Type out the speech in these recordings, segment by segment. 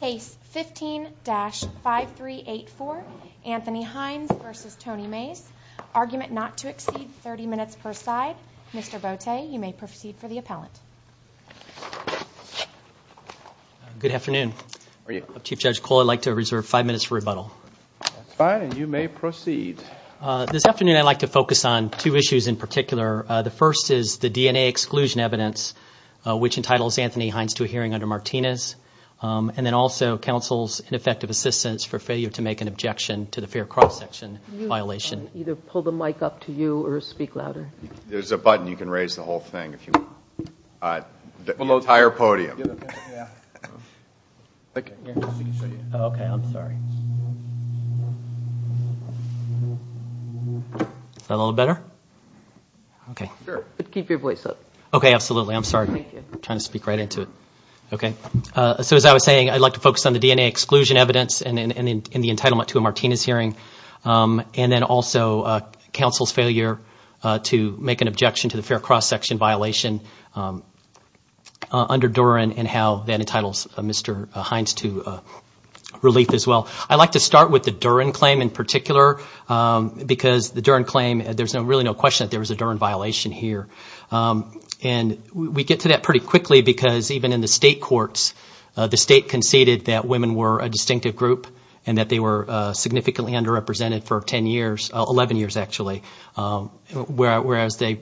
Case 15-5384, Anthony Hines v. Tony Mays. Argument not to exceed 30 minutes per side. Mr. Bote, you may proceed for the appellant. Good afternoon. Good afternoon. Chief Judge Cole, I'd like to reserve five minutes for rebuttal. That's fine, and you may proceed. This afternoon I'd like to focus on two issues in particular. The first is the DNA exclusion evidence, which entitles Anthony Hines to a hearing under Martinez. And then also counsel's ineffective assistance for failure to make an objection to the fair cross-section violation. You can either pull the mic up to you or speak louder. There's a button. You can raise the whole thing if you want. The entire podium. Is that a little better? Keep your voice up. Okay, absolutely. I'm sorry. I'm trying to speak right into it. Okay, so as I was saying, I'd like to focus on the DNA exclusion evidence and the entitlement to a Martinez hearing. And then also counsel's failure to make an objection to the fair cross-section violation under Duren and how that entitles Mr. Hines to relief as well. I'd like to start with the Duren claim in particular because the Duren claim, there's really no question that there was a Duren violation here. And we get to that pretty quickly because even in the state courts, the state conceded that women were a distinctive group and that they were significantly underrepresented for 10 years, 11 years actually. Whereas they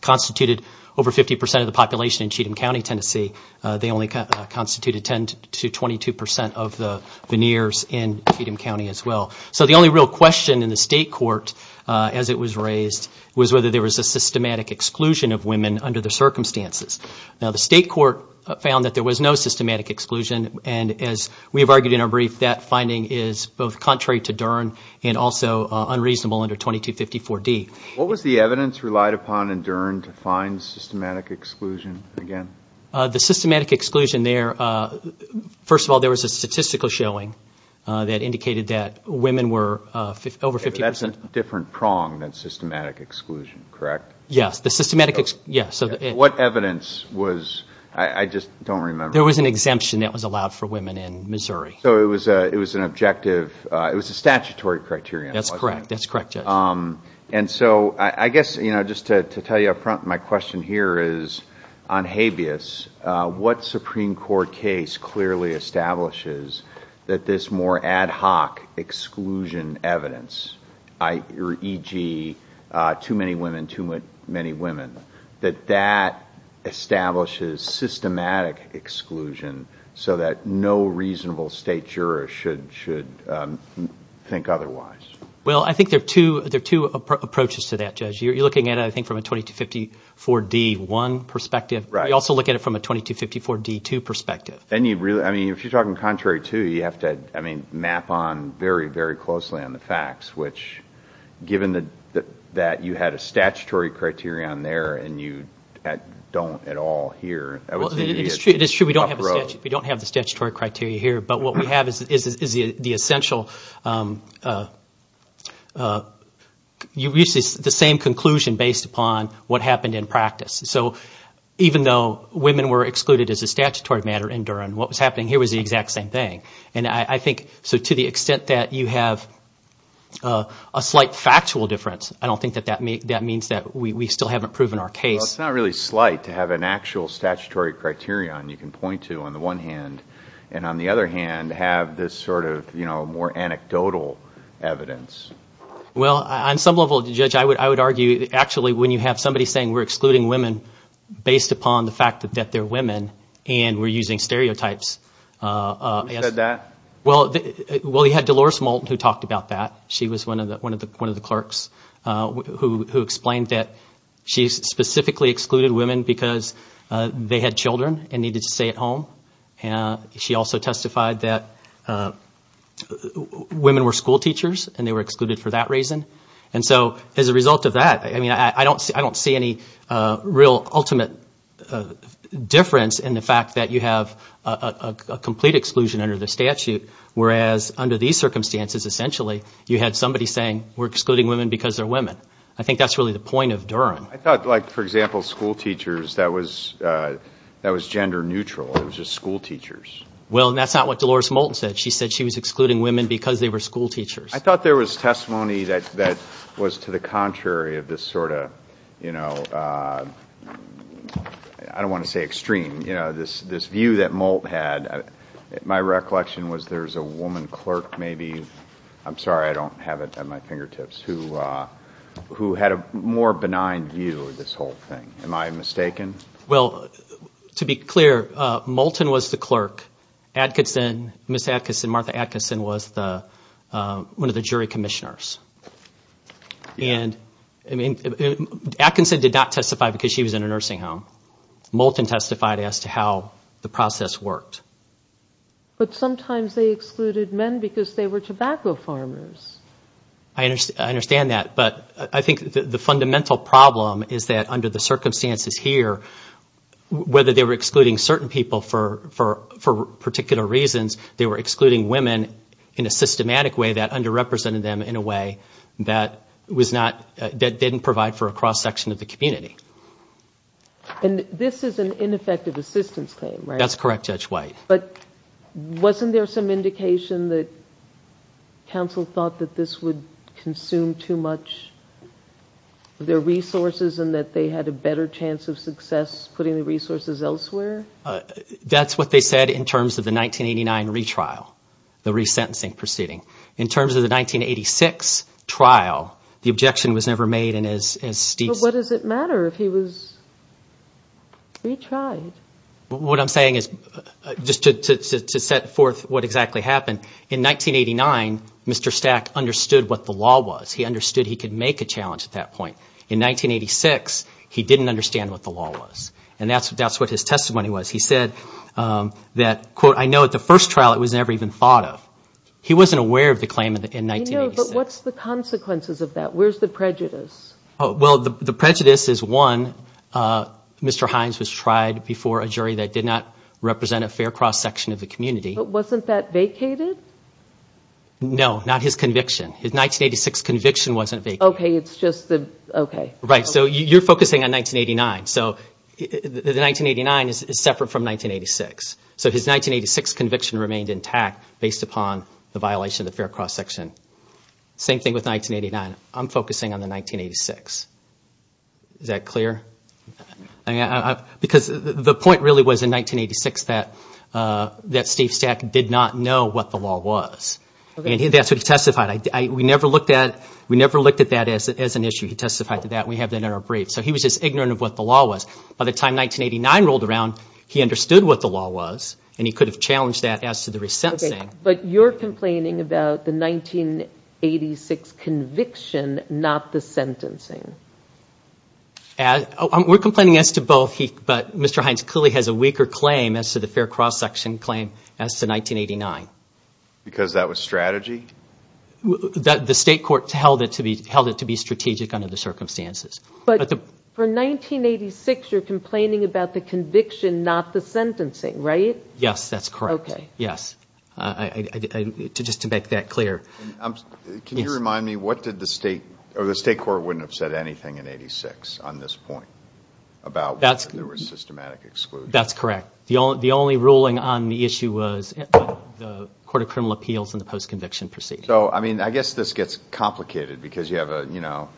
constituted over 50 percent of the population in Cheatham County, Tennessee, they only constituted 10 to 22 percent of the veneers in Cheatham County as well. So the only real question in the state court as it was raised was whether there was a systematic exclusion of women under the circumstances. Now, the state court found that there was no systematic exclusion. And as we have argued in our brief, that finding is both contrary to Duren and also unreasonable under 2254D. What was the evidence relied upon in Duren to find systematic exclusion again? The systematic exclusion there, first of all, there was a statistical showing that indicated that women were over 50 percent. That's a different prong than systematic exclusion, correct? Yes. What evidence was, I just don't remember. There was an exemption that was allowed for women in Missouri. So it was an objective, it was a statutory criterion. That's correct. That's correct, Judge. And so I guess, you know, just to tell you up front, my question here is on habeas. What Supreme Court case clearly establishes that this more ad hoc exclusion evidence, e.g., too many women, too many women, that that establishes systematic exclusion so that no reasonable state juror should think otherwise? Well, I think there are two approaches to that, Judge. You're looking at it, I think, from a 2254D1 perspective. Right. You also look at it from a 2254D2 perspective. And you really – I mean, if you're talking contrary to, you have to, I mean, map on very, very closely on the facts, which given that you had a statutory criterion there and you don't at all here, that would seem to be an uproad. We don't have the statutory criteria here. But what we have is the essential – the same conclusion based upon what happened in practice. So even though women were excluded as a statutory matter in Durham, what was happening here was the exact same thing. And I think – so to the extent that you have a slight factual difference, I don't think that that means that we still haven't proven our case. Well, it's not really slight to have an actual statutory criterion you can point to on the one hand and on the other hand have this sort of more anecdotal evidence. Well, on some level, Judge, I would argue actually when you have somebody saying we're excluding women based upon the fact that they're women and we're using stereotypes. Who said that? Well, you had Dolores Moulton who talked about that. She was one of the clerks who explained that she specifically excluded women because they had children and needed to stay at home. She also testified that women were schoolteachers and they were excluded for that reason. And so as a result of that, I mean, I don't see any real ultimate difference in the fact that you have a complete exclusion under the statute, whereas under these circumstances, essentially, you had somebody saying we're excluding women because they're women. I think that's really the point of Durham. I thought like, for example, schoolteachers, that was gender neutral. It was just schoolteachers. Well, and that's not what Dolores Moulton said. She said she was excluding women because they were schoolteachers. I thought there was testimony that was to the contrary of this sort of, I don't want to say extreme, this view that Moulton had. My recollection was there was a woman clerk maybe – I'm sorry, I don't have it at my fingertips – who had a more benign view of this whole thing. Am I mistaken? Well, to be clear, Moulton was the clerk. Adkinson, Ms. Adkinson, Martha Adkinson was one of the jury commissioners. And, I mean, Adkinson did not testify because she was in a nursing home. Moulton testified as to how the process worked. But sometimes they excluded men because they were tobacco farmers. I understand that. But I think the fundamental problem is that under the circumstances here, whether they were excluding certain people for particular reasons, they were excluding women in a systematic way that underrepresented them in a way that didn't provide for a cross-section of the community. And this is an ineffective assistance claim, right? That's correct, Judge White. But wasn't there some indication that counsel thought that this would consume too much of their resources and that they had a better chance of success putting the resources elsewhere? That's what they said in terms of the 1989 retrial, the resentencing proceeding. In terms of the 1986 trial, the objection was never made in as steep – But what does it matter if he was retried? What I'm saying is just to set forth what exactly happened. In 1989, Mr. Stack understood what the law was. He understood he could make a challenge at that point. In 1986, he didn't understand what the law was. And that's what his testimony was. He said that, quote, I know at the first trial it was never even thought of. He wasn't aware of the claim in 1986. I know, but what's the consequences of that? Where's the prejudice? Well, the prejudice is, one, Mr. Hines was tried before a jury that did not represent a fair cross-section of the community. But wasn't that vacated? No, not his conviction. His 1986 conviction wasn't vacated. Okay, it's just the – okay. Right, so you're focusing on 1989. So the 1989 is separate from 1986. So his 1986 conviction remained intact based upon the violation of the fair cross-section. Same thing with 1989. I'm focusing on the 1986. Is that clear? Because the point really was in 1986 that Steve Stack did not know what the law was. And that's what he testified. We never looked at that as an issue. He testified to that. We have that in our brief. So he was just ignorant of what the law was. By the time 1989 rolled around, he understood what the law was. And he could have challenged that as to the resentencing. But you're complaining about the 1986 conviction, not the sentencing. We're complaining as to both. But Mr. Hines clearly has a weaker claim as to the fair cross-section claim as to 1989. Because that was strategy? The state court held it to be strategic under the circumstances. But for 1986, you're complaining about the conviction, not the sentencing, right? Yes, that's correct. Okay. Yes. Just to make that clear. Can you remind me, what did the state – or the state court wouldn't have said anything in 1986 on this point? About whether there was systematic exclusion. That's correct. The only ruling on the issue was the Court of Criminal Appeals and the post-conviction proceeding. So, I mean, I guess this gets complicated because you have a – you know,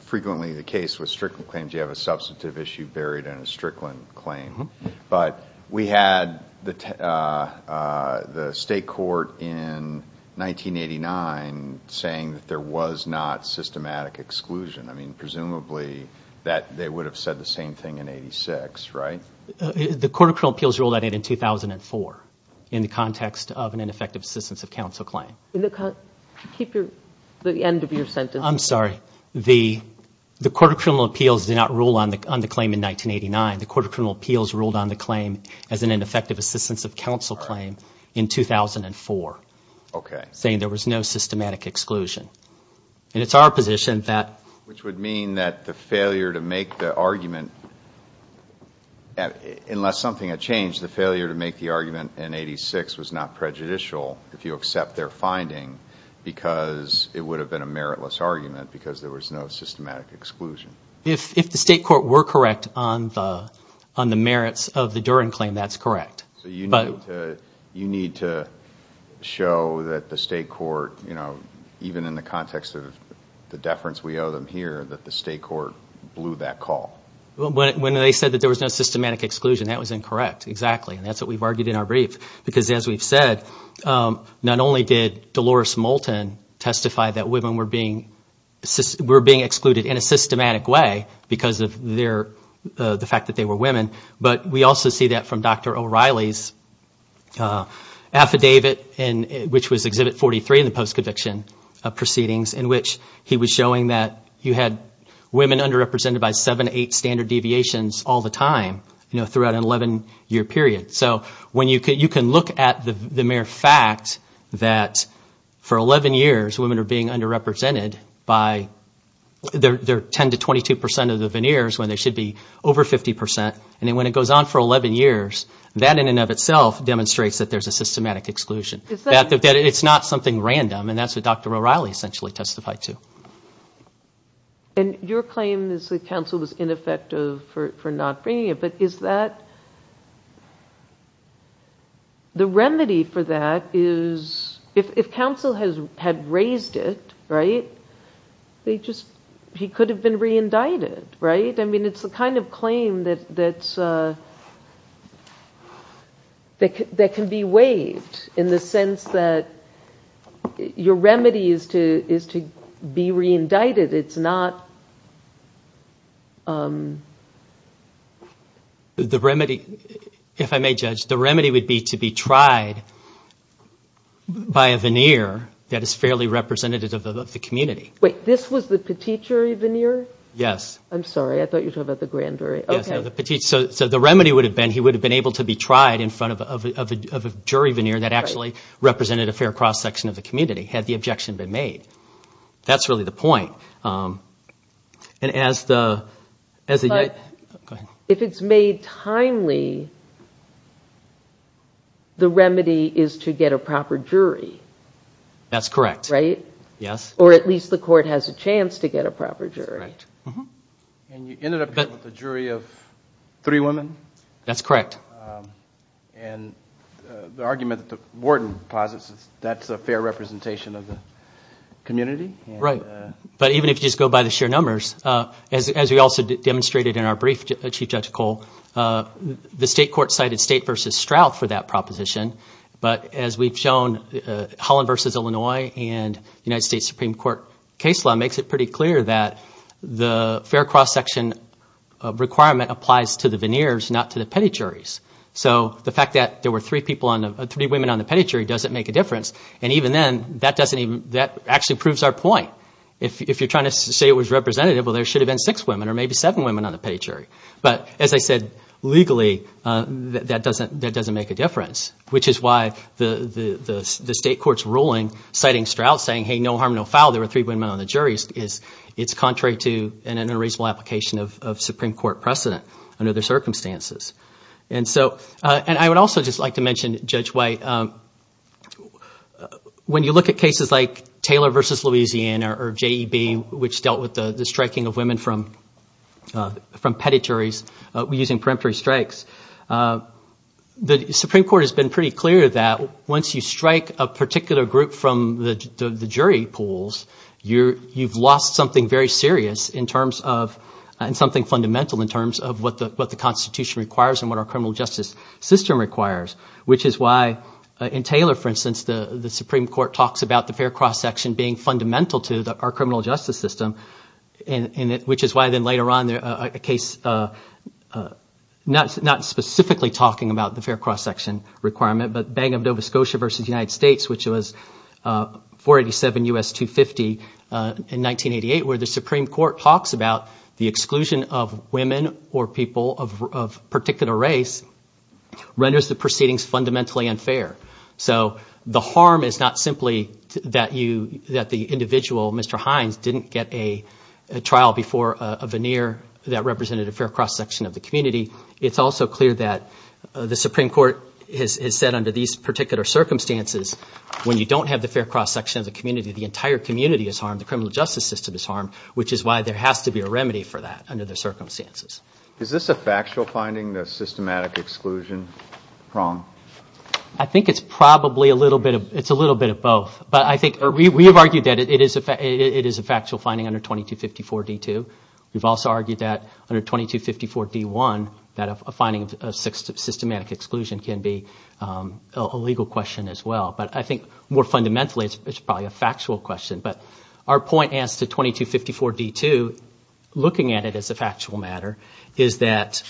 frequently the case with Strickland claims you have a substantive issue buried in a Strickland claim. But we had the state court in 1989 saying that there was not systematic exclusion. I mean, presumably that they would have said the same thing in 1986, right? The Court of Criminal Appeals ruled on it in 2004 in the context of an ineffective assistance of counsel claim. Keep your – the end of your sentence. I'm sorry. The Court of Criminal Appeals did not rule on the claim in 1989. The Court of Criminal Appeals ruled on the claim as an ineffective assistance of counsel claim in 2004. Okay. Saying there was no systematic exclusion. And it's our position that – Which would mean that the failure to make the argument – unless something had changed, the failure to make the argument in 1986 was not prejudicial if you accept their finding because it would have been a meritless argument because there was no systematic exclusion. If the state court were correct on the merits of the Duren claim, that's correct. So you need to show that the state court, you know, even in the context of the deference we owe them here, that the state court blew that call. When they said that there was no systematic exclusion, that was incorrect, exactly. And that's what we've argued in our brief because, as we've said, not only did Dolores Moulton testify that women were being excluded in a systematic way because of the fact that they were women, but we also see that from Dr. O'Reilly's affidavit, which was Exhibit 43 in the post-conviction proceedings, in which he was showing that you had women underrepresented by seven to eight standard deviations all the time, you know, throughout an 11-year period. So you can look at the mere fact that for 11 years women are being underrepresented by their 10 to 22 percent of the veneers when they should be over 50 percent. And then when it goes on for 11 years, that in and of itself demonstrates that there's a systematic exclusion, that it's not something random, and that's what Dr. O'Reilly essentially testified to. And your claim is that counsel was ineffective for not bringing it, but is that... The remedy for that is, if counsel had raised it, right, he could have been re-indicted, right? I mean, it's the kind of claim that can be waived in the sense that your remedy is to be re-indicted, it's not... The remedy, if I may judge, the remedy would be to be tried by a veneer that is fairly representative of the community. Wait, this was the petitior veneer? Yes. I'm sorry, I thought you were talking about the grand jury. Yes, so the remedy would have been he would have been able to be tried in front of a jury veneer that actually represented a fair cross-section of the community had the objection been made. That's really the point. But if it's made timely, the remedy is to get a proper jury. That's correct. Right? Yes. Or at least the court has a chance to get a proper jury. That's right. And you ended up with a jury of three women? That's correct. And the argument that the warden posits is that's a fair representation of the community? Right. But even if you just go by the sheer numbers, as we also demonstrated in our brief, Chief Judge Cole, the state court cited State v. Stroud for that proposition, but as we've shown, Holland v. Illinois and United States Supreme Court case law makes it pretty clear that the fair cross-section requirement applies to the veneers, not to the petty juries. So the fact that there were three women on the petty jury doesn't make a difference. And even then, that actually proves our point. If you're trying to say it was representative, well, there should have been six women or maybe seven women on the petty jury. But as I said, legally, that doesn't make a difference, which is why the state court's ruling citing Stroud saying, hey, no harm, no foul. There were three women on the jury. It's contrary to an unreasonable application of Supreme Court precedent under the circumstances. And I would also just like to mention, Judge White, when you look at cases like Taylor v. Louisiana or J.E.B., which dealt with the striking of women from petty juries using peremptory strikes, the Supreme Court has been pretty clear that once you strike a particular group from the jury pools, you've lost something very serious in terms of – and something fundamental in terms of what the Constitution requires and what our criminal justice system requires, which is why in Taylor, for instance, the Supreme Court talks about the fair cross-section being fundamental to our criminal justice system, which is why then later on a case not specifically talking about the fair cross-section requirement, but Bank of Nova Scotia v. United States, which was 487 U.S. 250 in 1988, where the Supreme Court talks about the exclusion of women or people of particular race renders the proceedings fundamentally unfair. So the harm is not simply that the individual, Mr. Hines, didn't get a trial before a veneer that represented a fair cross-section of the community. It's also clear that the Supreme Court has said under these particular circumstances, when you don't have the fair cross-section of the community, the entire community is harmed. The criminal justice system is harmed, which is why there has to be a remedy for that under the circumstances. Is this a factual finding, the systematic exclusion? I think it's probably a little bit of both. But I think we have argued that it is a factual finding under 2254 D.2. We've also argued that under 2254 D.1, that a finding of systematic exclusion can be a legal question as well. But I think more fundamentally, it's probably a factual question. But our point as to 2254 D.2, looking at it as a factual matter, is that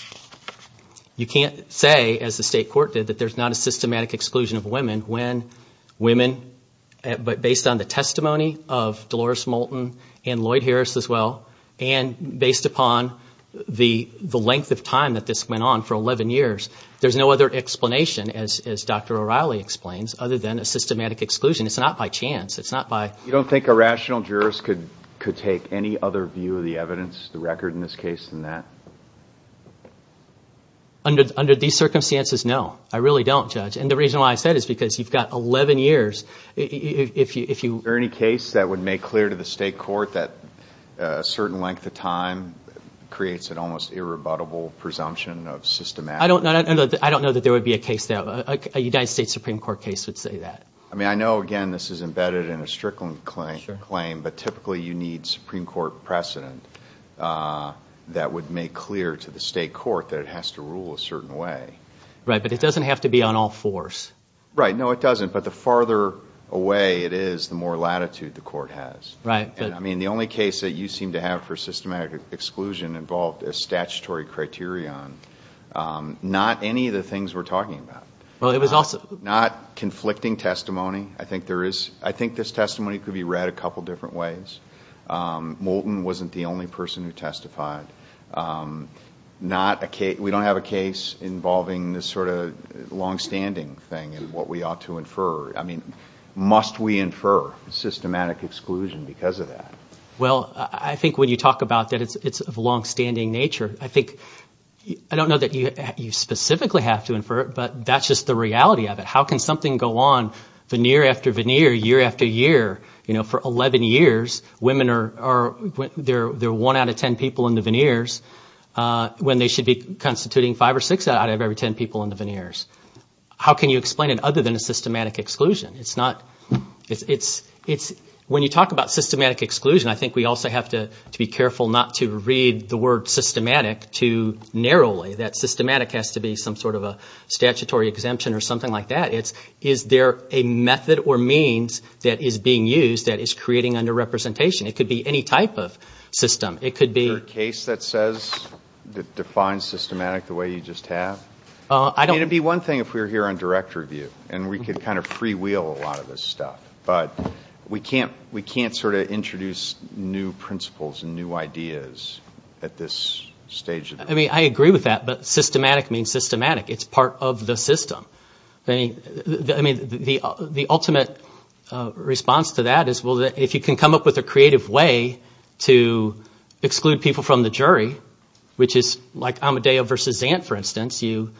you can't say, as the state court did, that there's not a systematic exclusion of women. But based on the testimony of Dolores Moulton and Lloyd Harris as well, and based upon the length of time that this went on for 11 years, there's no other explanation, as Dr. O'Reilly explains, other than a systematic exclusion. It's not by chance. You don't think a rational jurist could take any other view of the evidence, the record in this case, than that? Under these circumstances, no. I really don't, Judge. And the reason why I said it is because you've got 11 years. Is there any case that would make clear to the state court that a certain length of time creates an almost irrebuttable presumption of systematic exclusion? I don't know that there would be a case there. A United States Supreme Court case would say that. I mean, I know, again, this is embedded in a Strickland claim, but typically you need Supreme Court precedent that would make clear to the state court that it has to rule a certain way. Right. But it doesn't have to be on all fours. Right. No, it doesn't. But the farther away it is, the more latitude the court has. Right. I mean, the only case that you seem to have for systematic exclusion involved a statutory criterion, not any of the things we're talking about. Not conflicting testimony. I think this testimony could be read a couple different ways. Moulton wasn't the only person who testified. We don't have a case involving this sort of longstanding thing and what we ought to infer. I mean, must we infer systematic exclusion because of that? Well, I think when you talk about that it's of a longstanding nature, I think – I don't know that you specifically have to infer it, but that's just the reality of it. How can something go on veneer after veneer, year after year? For 11 years, women are – they're one out of ten people in the veneers when they should be constituting five or six out of every ten people in the veneers. How can you explain it other than a systematic exclusion? It's not – it's – when you talk about systematic exclusion, I think we also have to be careful not to read the word systematic too narrowly. That systematic has to be some sort of a statutory exemption or something like that. It's is there a method or means that is being used that is creating underrepresentation? It could be any type of system. It could be – Is there a case that says – that defines systematic the way you just have? I don't – It would be one thing if we were here on direct review and we could kind of free wheel a lot of this stuff. But we can't sort of introduce new principles and new ideas at this stage. I mean I agree with that, but systematic means systematic. It's part of the system. I mean the ultimate response to that is, well, if you can come up with a creative way to exclude people from the jury, which is like Amadeo versus Zant, for instance, you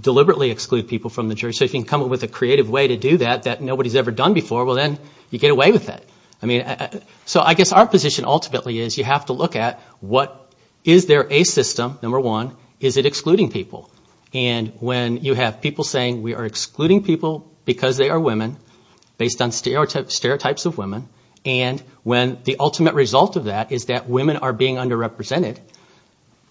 deliberately exclude people from the jury. So if you can come up with a creative way to do that that nobody's ever done before, well, then you get away with it. I mean – so I guess our position ultimately is you have to look at what – is there a system, number one. Is it excluding people? And when you have people saying we are excluding people because they are women based on stereotypes of women, and when the ultimate result of that is that women are being underrepresented,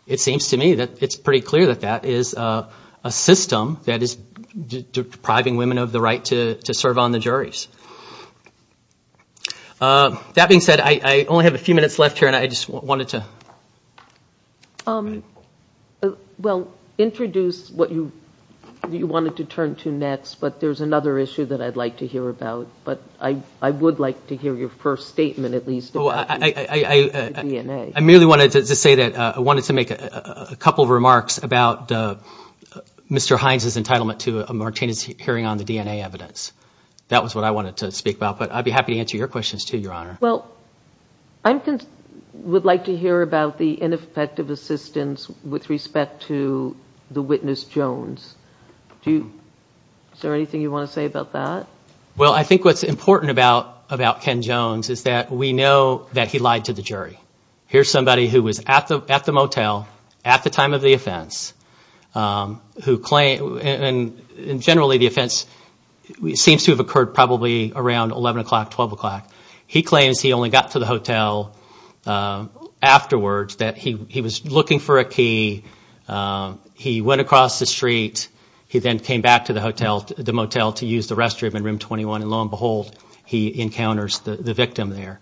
it seems to me that it's pretty clear that that is a system that is depriving women of the right to serve on the juries. That being said, I only have a few minutes left here, and I just wanted to – Well, introduce what you wanted to turn to next, but there's another issue that I'd like to hear about. But I would like to hear your first statement at least about the DNA. I merely wanted to say that I wanted to make a couple of remarks about Mr. Hines' entitlement to a Martinez hearing on the DNA evidence. That was what I wanted to speak about, but I'd be happy to answer your questions too, Your Honor. Well, I would like to hear about the ineffective assistance with respect to the witness, Jones. Is there anything you want to say about that? Well, I think what's important about Ken Jones is that we know that he lied to the jury. Here's somebody who was at the motel at the time of the offense, and generally the offense seems to have occurred probably around 11 o'clock, 12 o'clock. He claims he only got to the hotel afterwards, that he was looking for a key. He went across the street. He then came back to the motel to use the restroom in room 21, and lo and behold, he encounters the victim there.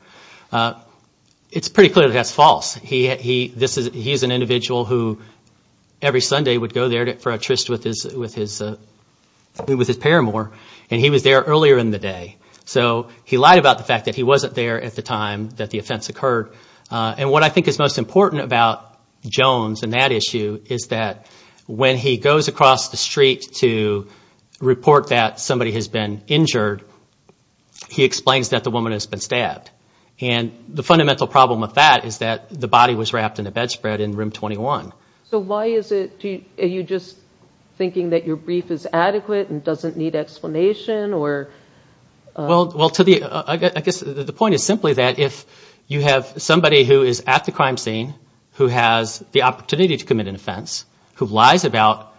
It's pretty clear that that's false. He is an individual who every Sunday would go there for a tryst with his paramour, and he was there earlier in the day. So he lied about the fact that he wasn't there at the time that the offense occurred. And what I think is most important about Jones in that issue is that when he goes across the street to report that somebody has been injured, he explains that the woman has been stabbed. And the fundamental problem with that is that the body was wrapped in a bedspread in room 21. So why is it, are you just thinking that your brief is adequate and doesn't need explanation? Well, I guess the point is simply that if you have somebody who is at the crime scene who has the opportunity to commit an offense, who lies about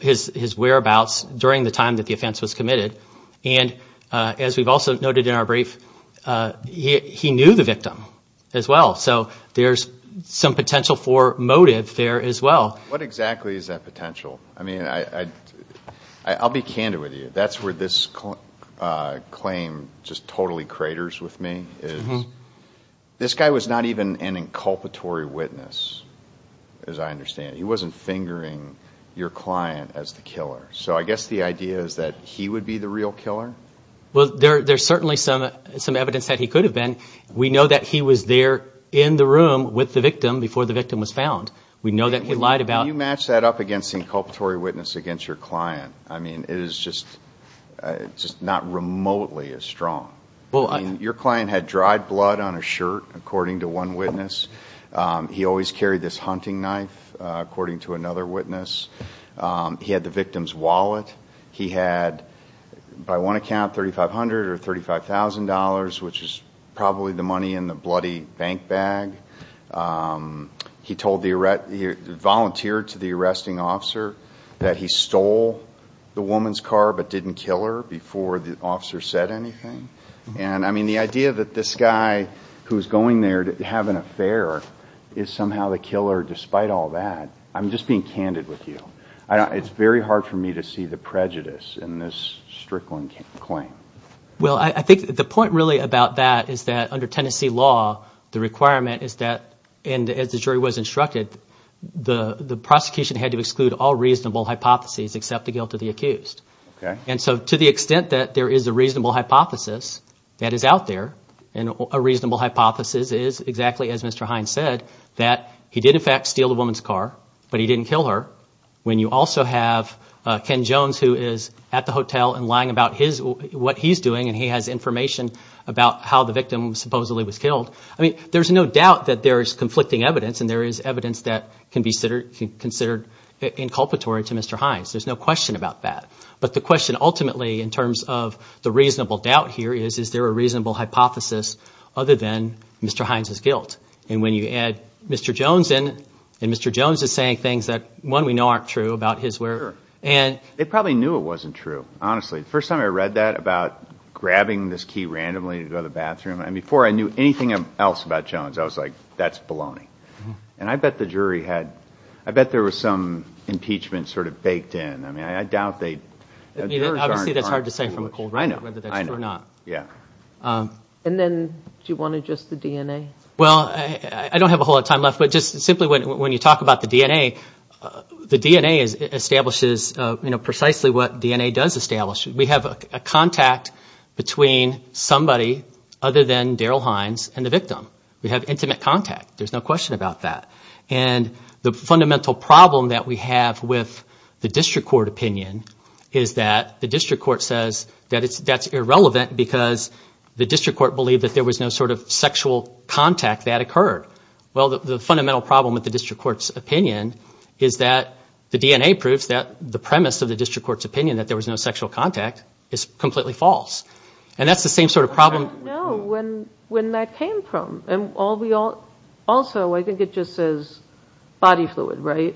his whereabouts during the time that the offense was committed, and as we've also noted in our brief, he knew the victim as well. So there's some potential for motive there as well. What exactly is that potential? I mean, I'll be candid with you. That's where this claim just totally craters with me is this guy was not even an inculpatory witness, as I understand it. He wasn't fingering your client as the killer. So I guess the idea is that he would be the real killer? Well, there's certainly some evidence that he could have been. We know that he was there in the room with the victim before the victim was found. We know that he lied about it. Can you match that up against the inculpatory witness against your client? I mean, it is just not remotely as strong. Your client had dried blood on his shirt, according to one witness. He always carried this hunting knife, according to another witness. He had the victim's wallet. He had, by one account, $3,500 or $35,000, which is probably the money in the bloody bank bag. He told the arrest—he volunteered to the arresting officer that he stole the woman's car but didn't kill her before the officer said anything. And, I mean, the idea that this guy who's going there to have an affair is somehow the killer despite all that, I'm just being candid with you. It's very hard for me to see the prejudice in this Strickland claim. Well, I think the point really about that is that under Tennessee law, the requirement is that, and as the jury was instructed, the prosecution had to exclude all reasonable hypotheses except the guilt of the accused. And so to the extent that there is a reasonable hypothesis that is out there, and a reasonable hypothesis is exactly as Mr. Hines said, that he did in fact steal the woman's car, but he didn't kill her. When you also have Ken Jones who is at the hotel and lying about what he's doing and he has information about how the victim supposedly was killed, I mean, there's no doubt that there is conflicting evidence and there is evidence that can be considered inculpatory to Mr. Hines. There's no question about that. But the question ultimately in terms of the reasonable doubt here is, is there a reasonable hypothesis other than Mr. Hines' guilt? And when you add Mr. Jones in, and Mr. Jones is saying things that, one, we know aren't true about his whereabouts. Sure. They probably knew it wasn't true, honestly. The first time I read that about grabbing this key randomly to go to the bathroom, and before I knew anything else about Jones, I was like, that's baloney. And I bet the jury had, I bet there was some impeachment sort of baked in. I mean, I doubt they. Obviously, that's hard to say from a cold point of view whether that's true or not. I know. Yeah. And then do you want to adjust the DNA? Well, I don't have a whole lot of time left, but just simply when you talk about the DNA, the DNA establishes precisely what DNA does establish. We have a contact between somebody other than Daryl Hines and the victim. We have intimate contact. There's no question about that. And the fundamental problem that we have with the district court opinion is that the district court says that that's irrelevant because the district court believed that there was no sort of sexual contact that occurred. Well, the fundamental problem with the district court's opinion is that the DNA proves that the premise of the district court's opinion that there was no sexual contact is completely false. And that's the same sort of problem. I don't know when that came from. Also, I think it just says body fluid, right?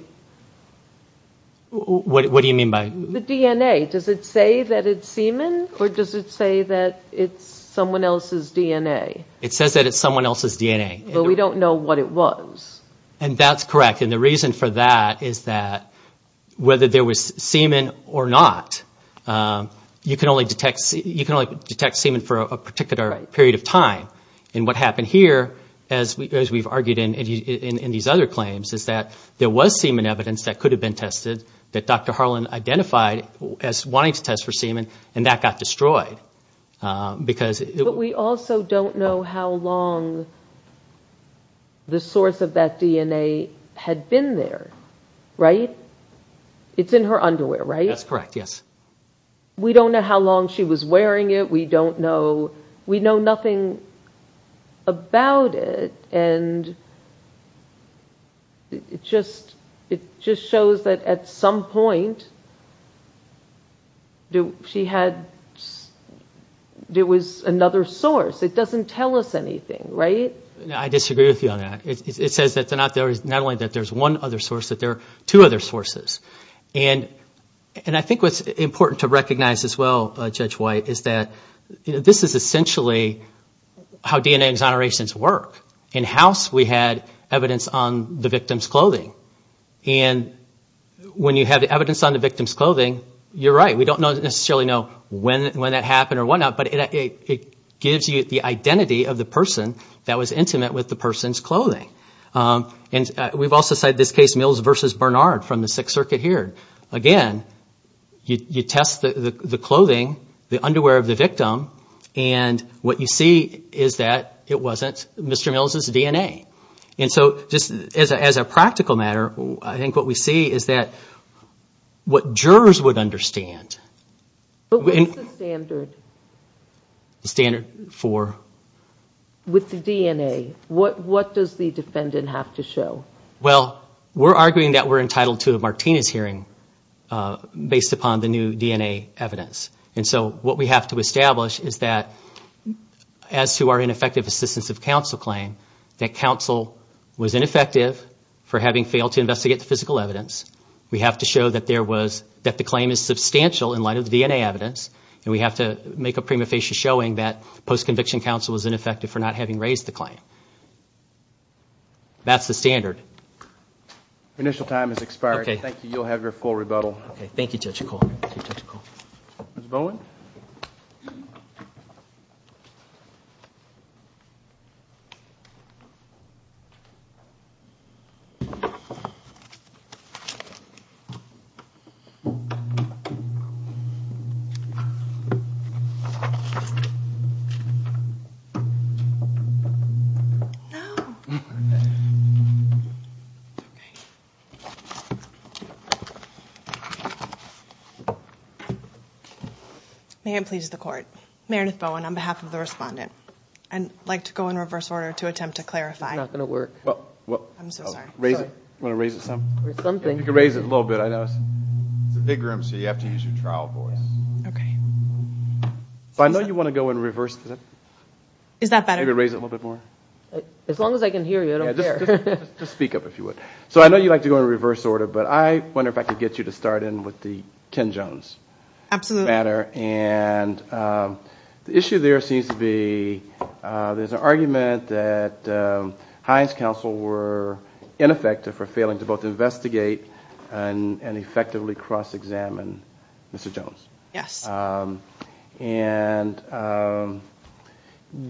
What do you mean by? The DNA. Does it say that it's semen or does it say that it's someone else's DNA? It says that it's someone else's DNA. But we don't know what it was. And that's correct. And the reason for that is that whether there was semen or not, you can only detect semen for a particular period of time. And what happened here, as we've argued in these other claims, is that there was semen evidence that could have been tested that Dr. Harlan identified as wanting to test for semen, and that got destroyed. But we also don't know how long the source of that DNA had been there, right? It's in her underwear, right? That's correct, yes. We don't know how long she was wearing it. We don't know. We know nothing about it. And it just shows that at some point, there was another source. It doesn't tell us anything, right? I disagree with you on that. It says that not only that there's one other source, that there are two other sources. And I think what's important to recognize as well, Judge White, is that this is essentially how DNA exonerations work. In-house, we had evidence on the victim's clothing. And when you have evidence on the victim's clothing, you're right. We don't necessarily know when that happened or whatnot, but it gives you the identity of the person that was intimate with the person's clothing. And we've also cited this case Mills v. Bernard from the Sixth Circuit here. Again, you test the clothing, the underwear of the victim, and what you see is that it wasn't Mr. Mills' DNA. And so, just as a practical matter, I think what we see is that what jurors would understand. But what's the standard? The standard for? With the DNA. What does the defendant have to show? Well, we're arguing that we're entitled to a Martinez hearing based upon the new DNA evidence. And so what we have to establish is that, as to our ineffective assistance of counsel claim, that counsel was ineffective for having failed to investigate the physical evidence. We have to show that the claim is substantial in light of the DNA evidence. And we have to make a prima facie showing that post-conviction counsel was ineffective for not having raised the claim. That's the standard. Your initial time has expired. Thank you. You'll have your full rebuttal. Okay. Thank you, Judge McCall. Ms. Bowen? No. It's okay. May it please the Court. Meredith Bowen on behalf of the respondent. I'd like to go in reverse order to attempt to clarify. It's not going to work. I'm so sorry. You want to raise it some? You can raise it a little bit. I know it's a big room, so you have to use your trial voice. Okay. I know you want to go in reverse. Is that better? Maybe raise it a little bit more. As long as I can hear you, I don't care. Just speak up, if you would. So I know you like to go in reverse order, but I wonder if I could get you to start in with the Ken Jones matter. Absolutely. The issue there seems to be there's an argument that Hines Counsel were ineffective for failing to both investigate and effectively cross-examine Mr. Jones. Yes. And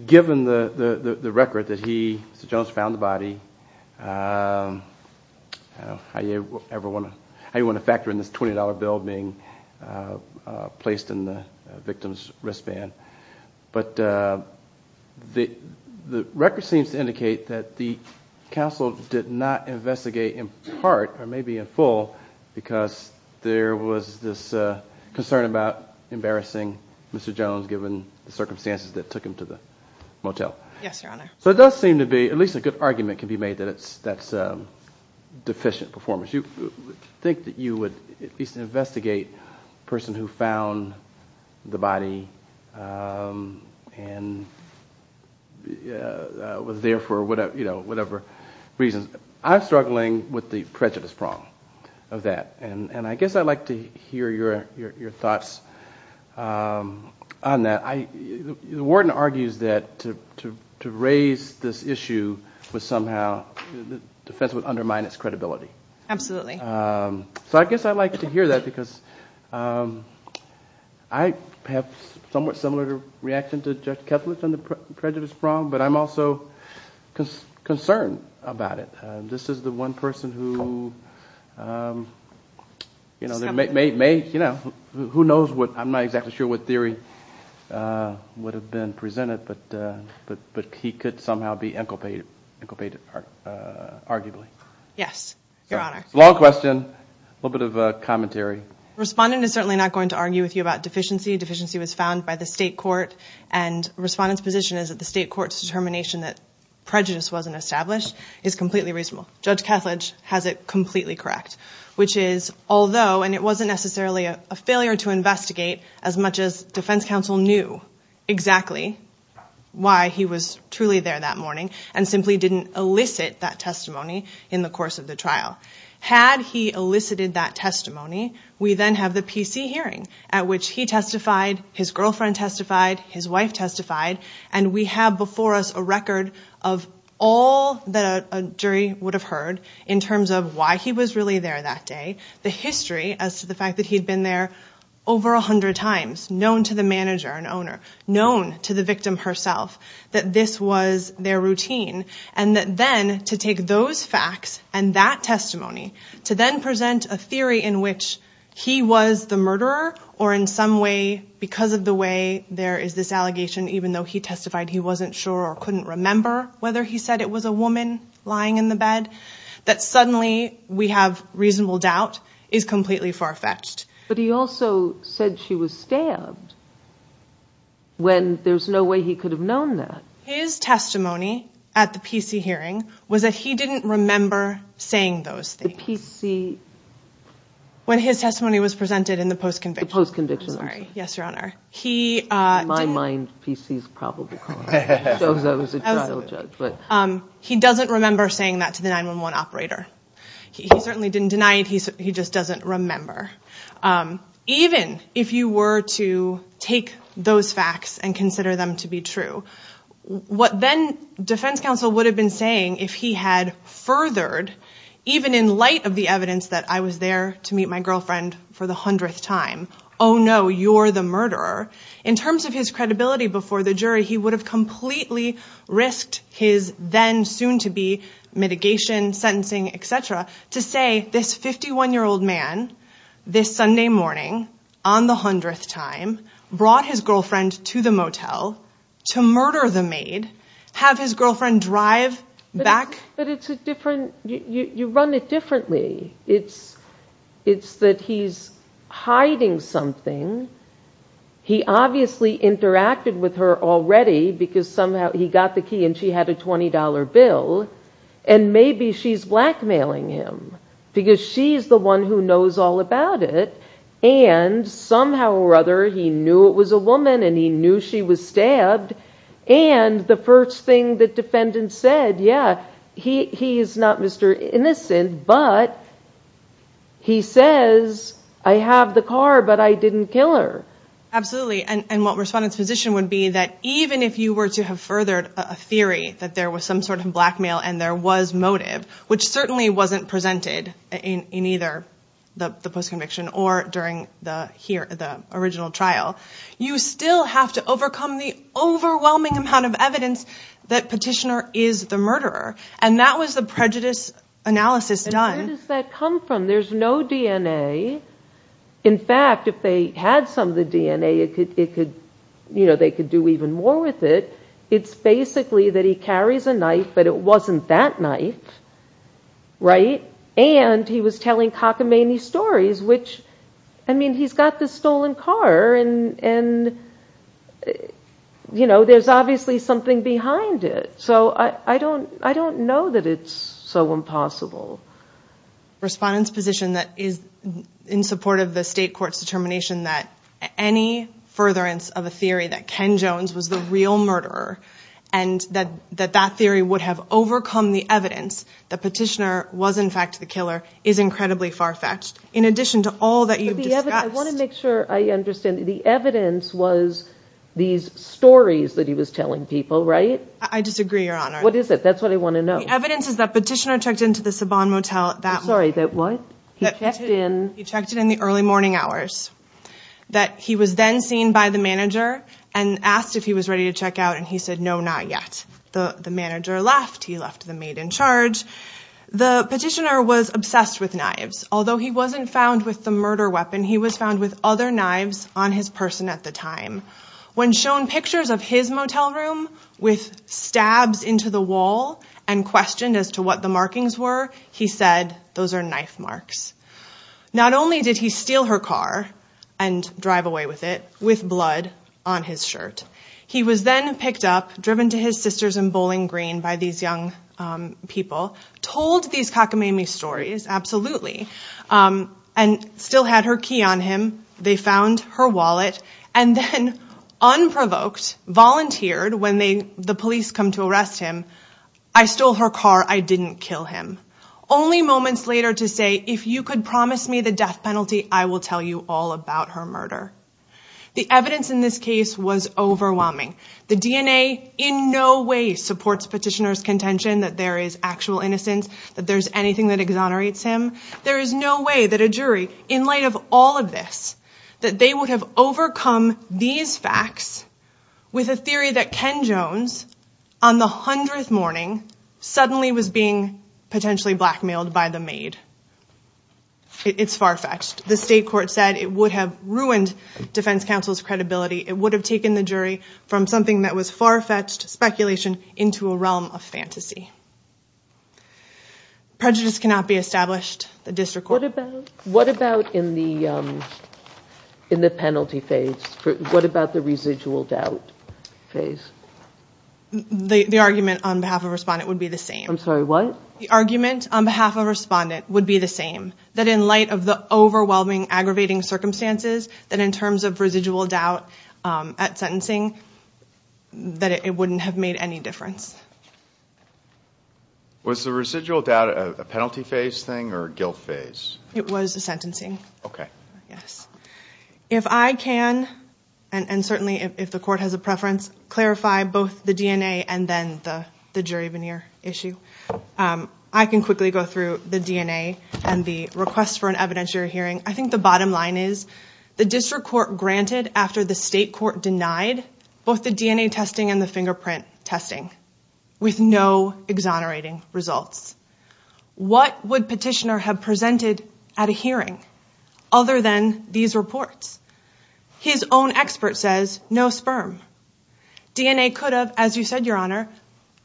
given the record that he, Mr. Jones, found the body, I don't know how you ever want to factor in this $20 bill being placed in the victim's wristband. But the record seems to indicate that the counsel did not investigate in part, or maybe in full, because there was this concern about embarrassing Mr. Jones, given the circumstances that took him to the motel. Yes, Your Honor. So it does seem to be, at least a good argument can be made that that's deficient performance. I think that you would at least investigate the person who found the body and was there for whatever reason. I'm struggling with the prejudice prong of that, and I guess I'd like to hear your thoughts on that. The warden argues that to raise this issue was somehow, the defense would undermine its credibility. Absolutely. So I guess I'd like to hear that because I have somewhat similar reaction to Judge Kethledge on the prejudice prong, but I'm also concerned about it. This is the one person who, you know, who knows what, I'm not exactly sure what theory would have been presented, but he could somehow be inculpated, arguably. Yes, Your Honor. Long question, a little bit of commentary. Respondent is certainly not going to argue with you about deficiency. Deficiency was found by the state court, and respondent's position is that the state court's determination that prejudice wasn't established is completely reasonable. Judge Kethledge has it completely correct, which is although, and it wasn't necessarily a failure to investigate as much as defense counsel knew exactly why he was truly there that morning, and simply didn't elicit that testimony in the course of the trial. Had he elicited that testimony, we then have the PC hearing at which he testified, his girlfriend testified, his wife testified, and we have before us a record of all that a jury would have heard in terms of why he was really there that day, the history as to the fact that he had been there over 100 times, known to the manager and owner, known to the victim herself, that this was their routine. And that then to take those facts and that testimony to then present a theory in which he was the murderer or in some way because of the way there is this allegation, even though he testified he wasn't sure or couldn't remember whether he said it was a woman lying in the bed, that suddenly we have reasonable doubt is completely far-fetched. But he also said she was stabbed when there's no way he could have known that. His testimony at the PC hearing was that he didn't remember saying those things. The PC... When his testimony was presented in the post-conviction. The post-conviction. Sorry. Yes, Your Honor. In my mind, PC is probable cause. I was a trial judge. He doesn't remember saying that to the 911 operator. He certainly didn't deny it. He just doesn't remember. Even if you were to take those facts and consider them to be true, what then defense counsel would have been saying if he had furthered, even in light of the evidence that I was there to meet my girlfriend for the hundredth time. Oh no, you're the murderer. In terms of his credibility before the jury, he would have completely risked his then soon-to-be mitigation, sentencing, etc. to say this 51-year-old man, this Sunday morning, on the hundredth time, brought his girlfriend to the motel to murder the maid, have his girlfriend drive back... You run it differently. It's that he's hiding something. He obviously interacted with her already because somehow he got the key and she had a $20 bill. And maybe she's blackmailing him because she's the one who knows all about it. And somehow or other, he knew it was a woman and he knew she was stabbed. And the first thing the defendant said, yeah, he's not Mr. Innocent, but he says, I have the car, but I didn't kill her. Absolutely. And what Respondent's position would be that even if you were to have furthered a theory that there was some sort of blackmail and there was motive, which certainly wasn't presented in either the post-conviction or during the original trial, you still have to overcome the overwhelming amount of evidence that Petitioner is the murderer. And that was the prejudice analysis done. And where does that come from? There's no DNA. In fact, if they had some of the DNA, they could do even more with it. It's basically that he carries a knife, but it wasn't that knife, right? And he was telling cockamamie stories, which, I mean, he's got this stolen car and, you know, there's obviously something behind it. So I don't know that it's so impossible. Respondent's position that is in support of the state court's determination that any furtherance of a theory that Ken Jones was the real murderer and that that theory would have overcome the evidence that Petitioner was in fact the killer is incredibly far-fetched. In addition to all that you've discussed. I want to make sure I understand. The evidence was these stories that he was telling people, right? I disagree, Your Honor. What is it? That's what I want to know. The evidence is that Petitioner checked into the Saban Motel that morning. Sorry, that what? He checked in? He checked in the early morning hours. That he was then seen by the manager and asked if he was ready to check out, and he said, no, not yet. The manager left. He left the maid in charge. The Petitioner was obsessed with knives. Although he wasn't found with the murder weapon, he was found with other knives on his person at the time. When shown pictures of his motel room with stabs into the wall and questioned as to what the markings were, he said, those are knife marks. Not only did he steal her car and drive away with it with blood on his shirt. He was then picked up, driven to his sister's in Bowling Green by these young people, told these cockamamie stories, absolutely, and still had her key on him. They found her wallet and then unprovoked, volunteered when the police come to arrest him, I stole her car, I didn't kill him. Only moments later to say, if you could promise me the death penalty, I will tell you all about her murder. The evidence in this case was overwhelming. The DNA in no way supports Petitioner's contention that there is actual innocence, that there's anything that exonerates him. There is no way that a jury, in light of all of this, that they would have overcome these facts with a theory that Ken Jones, on the hundredth morning, suddenly was being potentially blackmailed by the maid. It's far-fetched. The state court said it would have ruined defense counsel's credibility. It would have taken the jury from something that was far-fetched speculation into a realm of fantasy. Prejudice cannot be established. What about in the penalty phase? What about the residual doubt phase? The argument on behalf of a respondent would be the same. I'm sorry, what? The argument on behalf of a respondent would be the same, that in light of the overwhelming, aggravating circumstances, that in terms of residual doubt at sentencing, that it wouldn't have made any difference. Was the residual doubt a penalty phase thing or a guilt phase? It was a sentencing. Okay. Yes. If I can, and certainly if the court has a preference, clarify both the DNA and then the jury veneer issue, I can quickly go through the DNA and the request for an evidentiary hearing. I think the bottom line is the district court granted after the state court denied both the DNA testing and the fingerprint testing with no exonerating results. What would Petitioner have presented at a hearing other than these reports? His own expert says no sperm. DNA could have, as you said, Your Honor,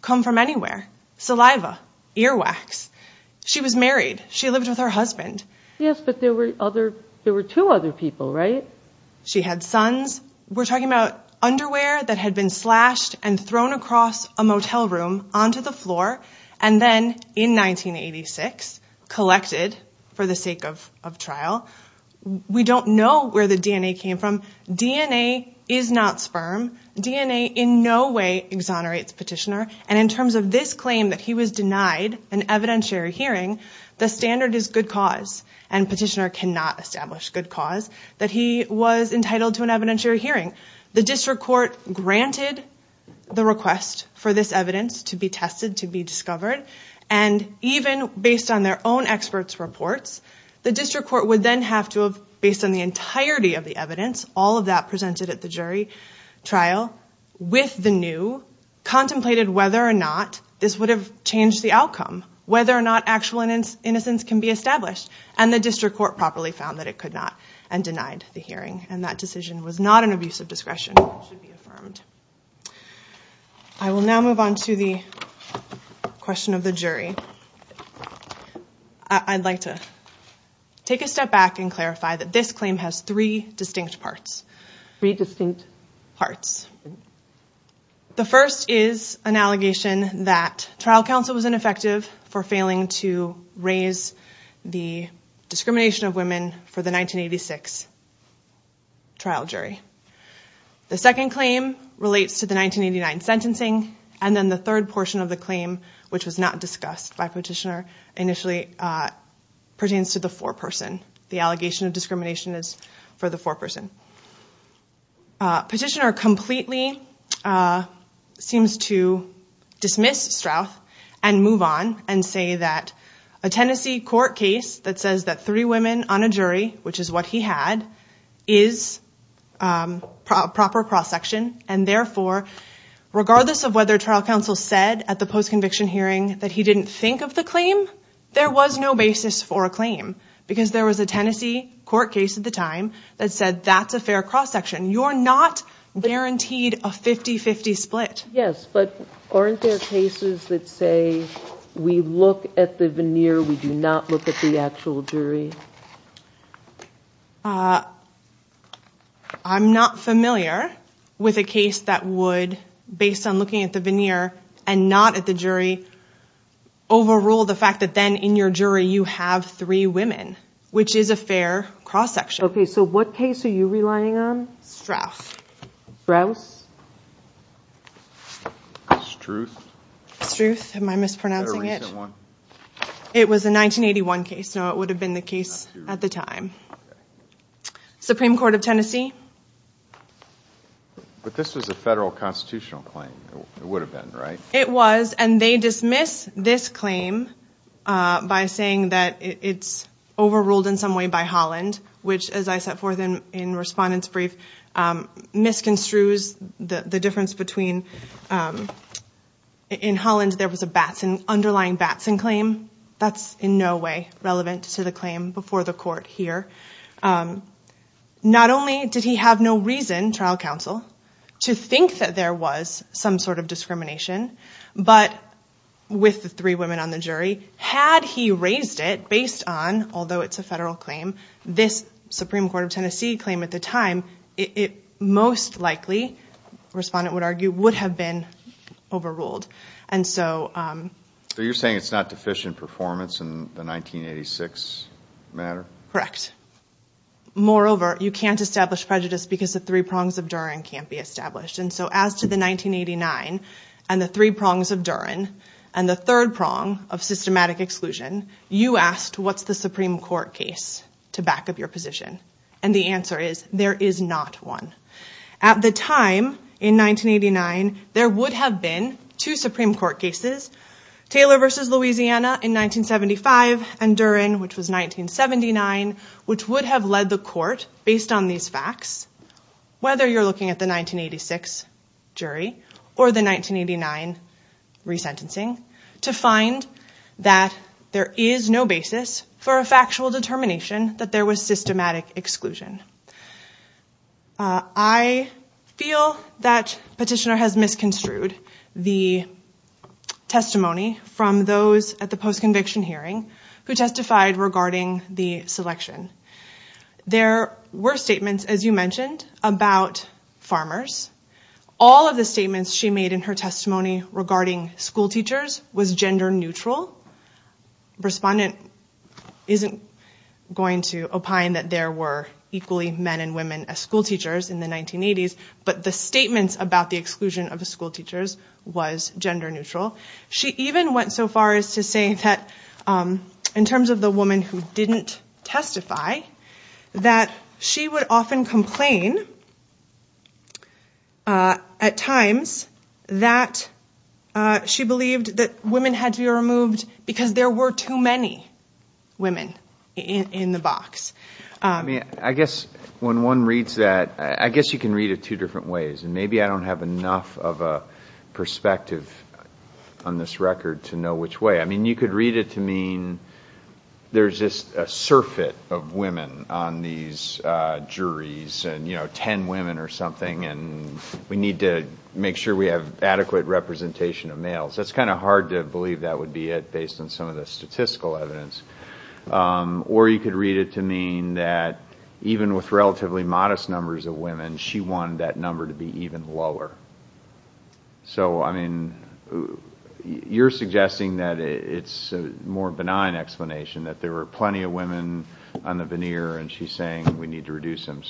come from anywhere. Saliva, earwax. She was married. She lived with her husband. Yes, but there were two other people, right? She had sons. We're talking about underwear that had been slashed and thrown across a motel room onto the floor and then in 1986 collected for the sake of trial. We don't know where the DNA came from. DNA is not sperm. DNA in no way exonerates Petitioner. And in terms of this claim that he was denied an evidentiary hearing, the standard is good cause and Petitioner cannot establish good cause that he was entitled to an evidentiary hearing. The district court granted the request for this evidence to be tested, to be discovered, and even based on their own experts' reports, the district court would then have to have, based on the entirety of the evidence, all of that presented at the jury trial, with the new, contemplated whether or not this would have changed the outcome, whether or not actual innocence can be established, and the district court properly found that it could not and denied the hearing. And that decision was not an abuse of discretion. It should be affirmed. I will now move on to the question of the jury. I'd like to take a step back and clarify that this claim has three distinct parts. Three distinct parts. The first is an allegation that trial counsel was ineffective for failing to raise the discrimination of women for the 1986 trial jury. The second claim relates to the 1989 sentencing, and then the third portion of the claim, which was not discussed by Petitioner, initially pertains to the foreperson. The allegation of discrimination is for the foreperson. Petitioner completely seems to dismiss Strouth and move on and say that a Tennessee court case that says that three women on a jury, which is what he had, is proper prosecution, and therefore, regardless of whether trial counsel said at the post-conviction hearing that he didn't think of the claim, there was no basis for a claim because there was a Tennessee court case at the time that said that's a fair cross-section. You're not guaranteed a 50-50 split. Yes, but aren't there cases that say we look at the veneer, we do not look at the actual jury? I'm not familiar with a case that would, based on looking at the veneer and not at the jury, overrule the fact that then in your jury you have three women, which is a fair cross-section. Okay, so what case are you relying on? Strouth. Strouth? Struth? Struth. Am I mispronouncing it? Is that a recent one? It was a 1981 case. No, it would have been the case at the time. Supreme Court of Tennessee? But this was a federal constitutional claim. It would have been, right? It was, and they dismiss this claim by saying that it's overruled in some way by Holland, which, as I set forth in Respondent's Brief, misconstrues the difference between in Holland there was an underlying Batson claim. That's in no way relevant to the claim before the court here. Not only did he have no reason, trial counsel, to think that there was some sort of discrimination, but with the three women on the jury, had he raised it based on, although it's a federal claim, this Supreme Court of Tennessee claim at the time, it most likely, Respondent would argue, would have been overruled. So you're saying it's not deficient performance in the 1986 matter? Correct. Moreover, you can't establish prejudice because the three prongs of Duren can't be established. And so as to the 1989 and the three prongs of Duren and the third prong of systematic exclusion, you asked, what's the Supreme Court case to back up your position? And the answer is, there is not one. At the time, in 1989, there would have been two Supreme Court cases, Taylor v. Louisiana in 1975 and Duren, which was 1979, which would have led the court, based on these facts, whether you're looking at the 1986 jury or the 1989 resentencing, to find that there is no basis for a factual determination that there was systematic exclusion. I feel that Petitioner has misconstrued the testimony from those at the post-conviction hearing who testified regarding the selection. There were statements, as you mentioned, about farmers. All of the statements she made in her testimony regarding school teachers was gender neutral. Respondent isn't going to opine that there were equally men and women as school teachers in the 1980s, but the statements about the exclusion of the school teachers was gender neutral. She even went so far as to say that, in terms of the woman who didn't testify, that she would often complain at times that she believed that women had to be removed because there were too many women in the box. I guess when one reads that, I guess you can read it two different ways, and maybe I don't have enough of a perspective on this record to know which way. You could read it to mean there's just a surfeit of women on these juries, ten women or something, and we need to make sure we have adequate representation of males. It's kind of hard to believe that would be it, based on some of the statistical evidence. Or you could read it to mean that, even with relatively modest numbers of women, she wanted that number to be even lower. So, I mean, you're suggesting that it's a more benign explanation, that there were plenty of women on the veneer, and she's saying we need to reduce them.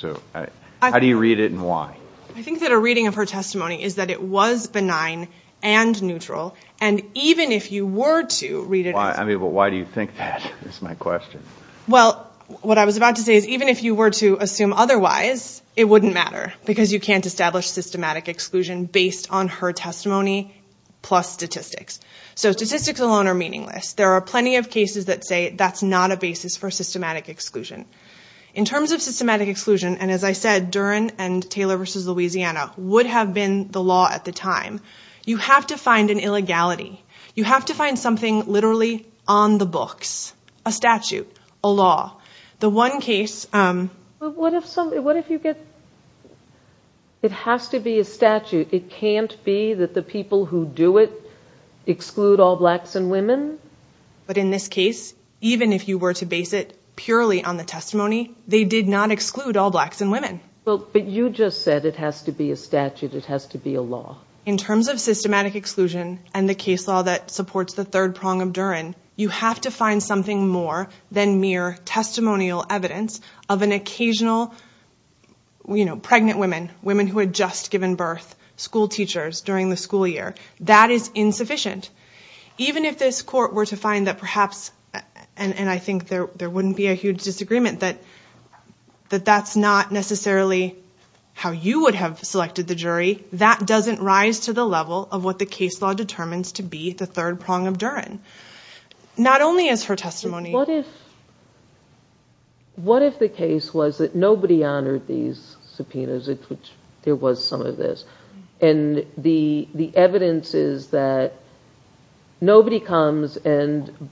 How do you read it, and why? I think that a reading of her testimony is that it was benign and neutral, and even if you were to read it as... Why do you think that is my question? Well, what I was about to say is even if you were to assume otherwise, it wouldn't matter, because you can't establish systematic exclusion based on her testimony plus statistics. So statistics alone are meaningless. There are plenty of cases that say that's not a basis for systematic exclusion. In terms of systematic exclusion, and as I said, Duren and Taylor v. Louisiana would have been the law at the time, you have to find an illegality. You have to find something literally on the books, a statute, a law. The one case... What if you get... It has to be a statute. It can't be that the people who do it exclude all blacks and women. But in this case, even if you were to base it purely on the testimony, they did not exclude all blacks and women. But you just said it has to be a statute, it has to be a law. In terms of systematic exclusion and the case law that supports the third prong of Duren, you have to find something more than mere testimonial evidence of an occasional pregnant woman, women who had just given birth, school teachers during the school year. That is insufficient. Even if this court were to find that perhaps, and I think there wouldn't be a huge disagreement, that that's not necessarily how you would have selected the jury, that doesn't rise to the level of what the case law determines to be the third prong of Duren. Not only is her testimony... What if the case was that nobody honored these subpoenas, which there was some of this, and the evidence is that nobody comes and,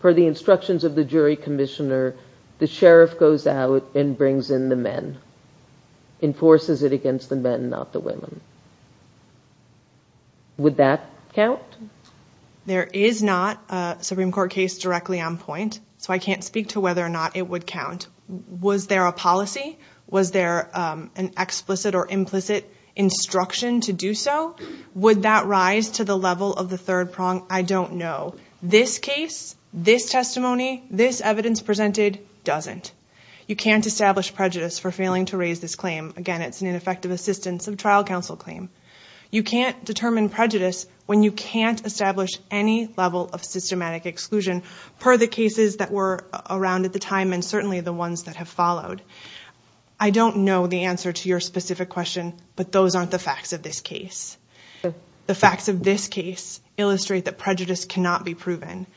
per the instructions of the jury commissioner, the sheriff goes out and brings in the men, enforces it against the men, not the women. Would that count? There is not a Supreme Court case directly on point, so I can't speak to whether or not it would count. Was there a policy? Was there an explicit or implicit instruction to do so? Would that rise to the level of the third prong? I don't know. This case, this testimony, this evidence presented doesn't. You can't establish prejudice for failing to raise this claim. Again, it's an ineffective assistance of trial counsel claim. You can't determine prejudice when you can't establish any level of systematic exclusion, per the cases that were around at the time, and certainly the ones that have followed. I don't know the answer to your specific question, but those aren't the facts of this case. Again,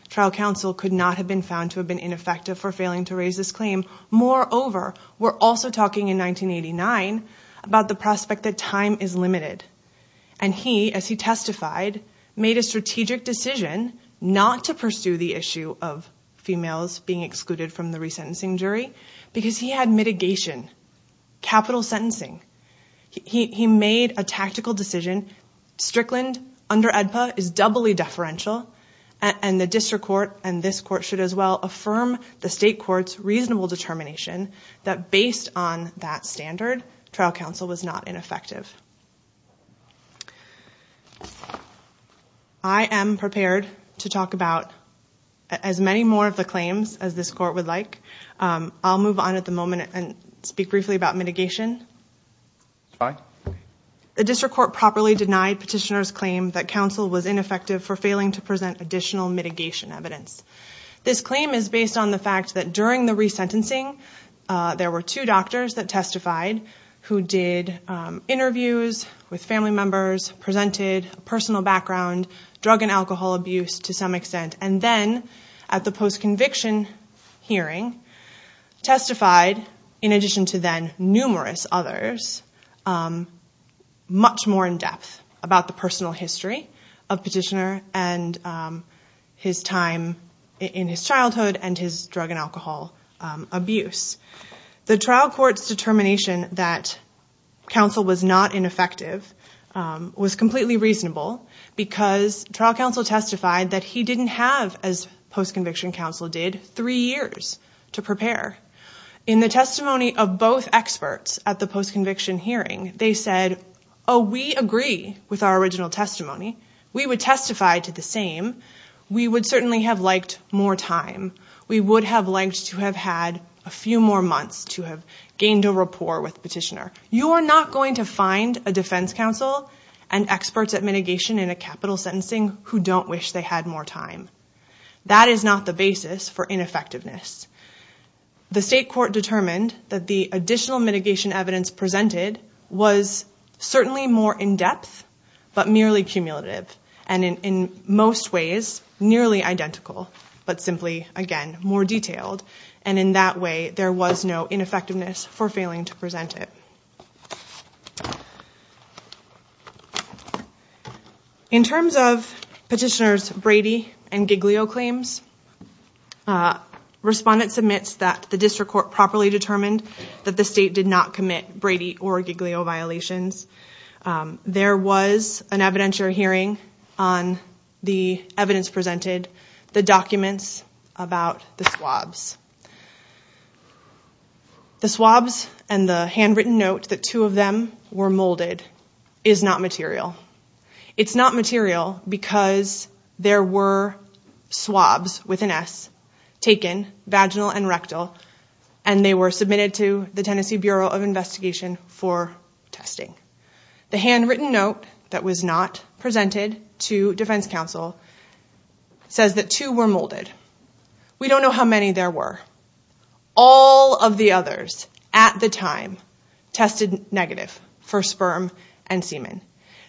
trial counsel could not have been found to have been ineffective for failing to raise this claim. Moreover, we're also talking in 1989 about the prospect that time is limited, and he, as he testified, made a strategic decision not to pursue the issue of females being excluded from the resentencing jury because he had mitigation, capital sentencing. He made a tactical decision. Again, Strickland under AEDPA is doubly deferential, and the district court and this court should as well affirm the state court's reasonable determination that based on that standard, trial counsel was not ineffective. I am prepared to talk about as many more of the claims as this court would like. I'll move on at the moment and speak briefly about mitigation. Fine. The district court properly denied petitioner's claim that counsel was ineffective for failing to present additional mitigation evidence. This claim is based on the fact that during the resentencing, there were two doctors that testified who did interviews with family members, presented a personal background, drug and alcohol abuse to some extent, and then at the post-conviction hearing testified, in addition to then numerous others, much more in depth about the personal history of petitioner and his time in his childhood and his drug and alcohol abuse. The trial court's determination that counsel was not ineffective was completely reasonable because trial counsel testified that he didn't have, as post-conviction counsel did, three years to prepare. In the testimony of both experts at the post-conviction hearing, they said, oh, we agree with our original testimony. We would testify to the same. We would certainly have liked more time. We would have liked to have had a few more months to have gained a rapport with petitioner. You are not going to find a defense counsel and experts at mitigation in a capital sentencing who don't wish they had more time. That is not the basis for ineffectiveness. The state court determined that the additional mitigation evidence presented was certainly more in depth but merely cumulative and in most ways nearly identical but simply, again, more detailed, and in that way there was no ineffectiveness for failing to present it. In terms of petitioners' Brady and Giglio claims, respondents admits that the district court properly determined that the state did not commit Brady or Giglio violations. There was an evidentiary hearing on the evidence presented, the documents about the swabs. The swabs and the handwritten note that two of them were molded is not material. It's not material because there were swabs with an S taken, vaginal and rectal, and they were submitted to the Tennessee Bureau of Investigation for testing. The handwritten note that was not presented to defense counsel says that two were molded. We don't know how many there were. All of the others at the time tested negative for sperm and semen.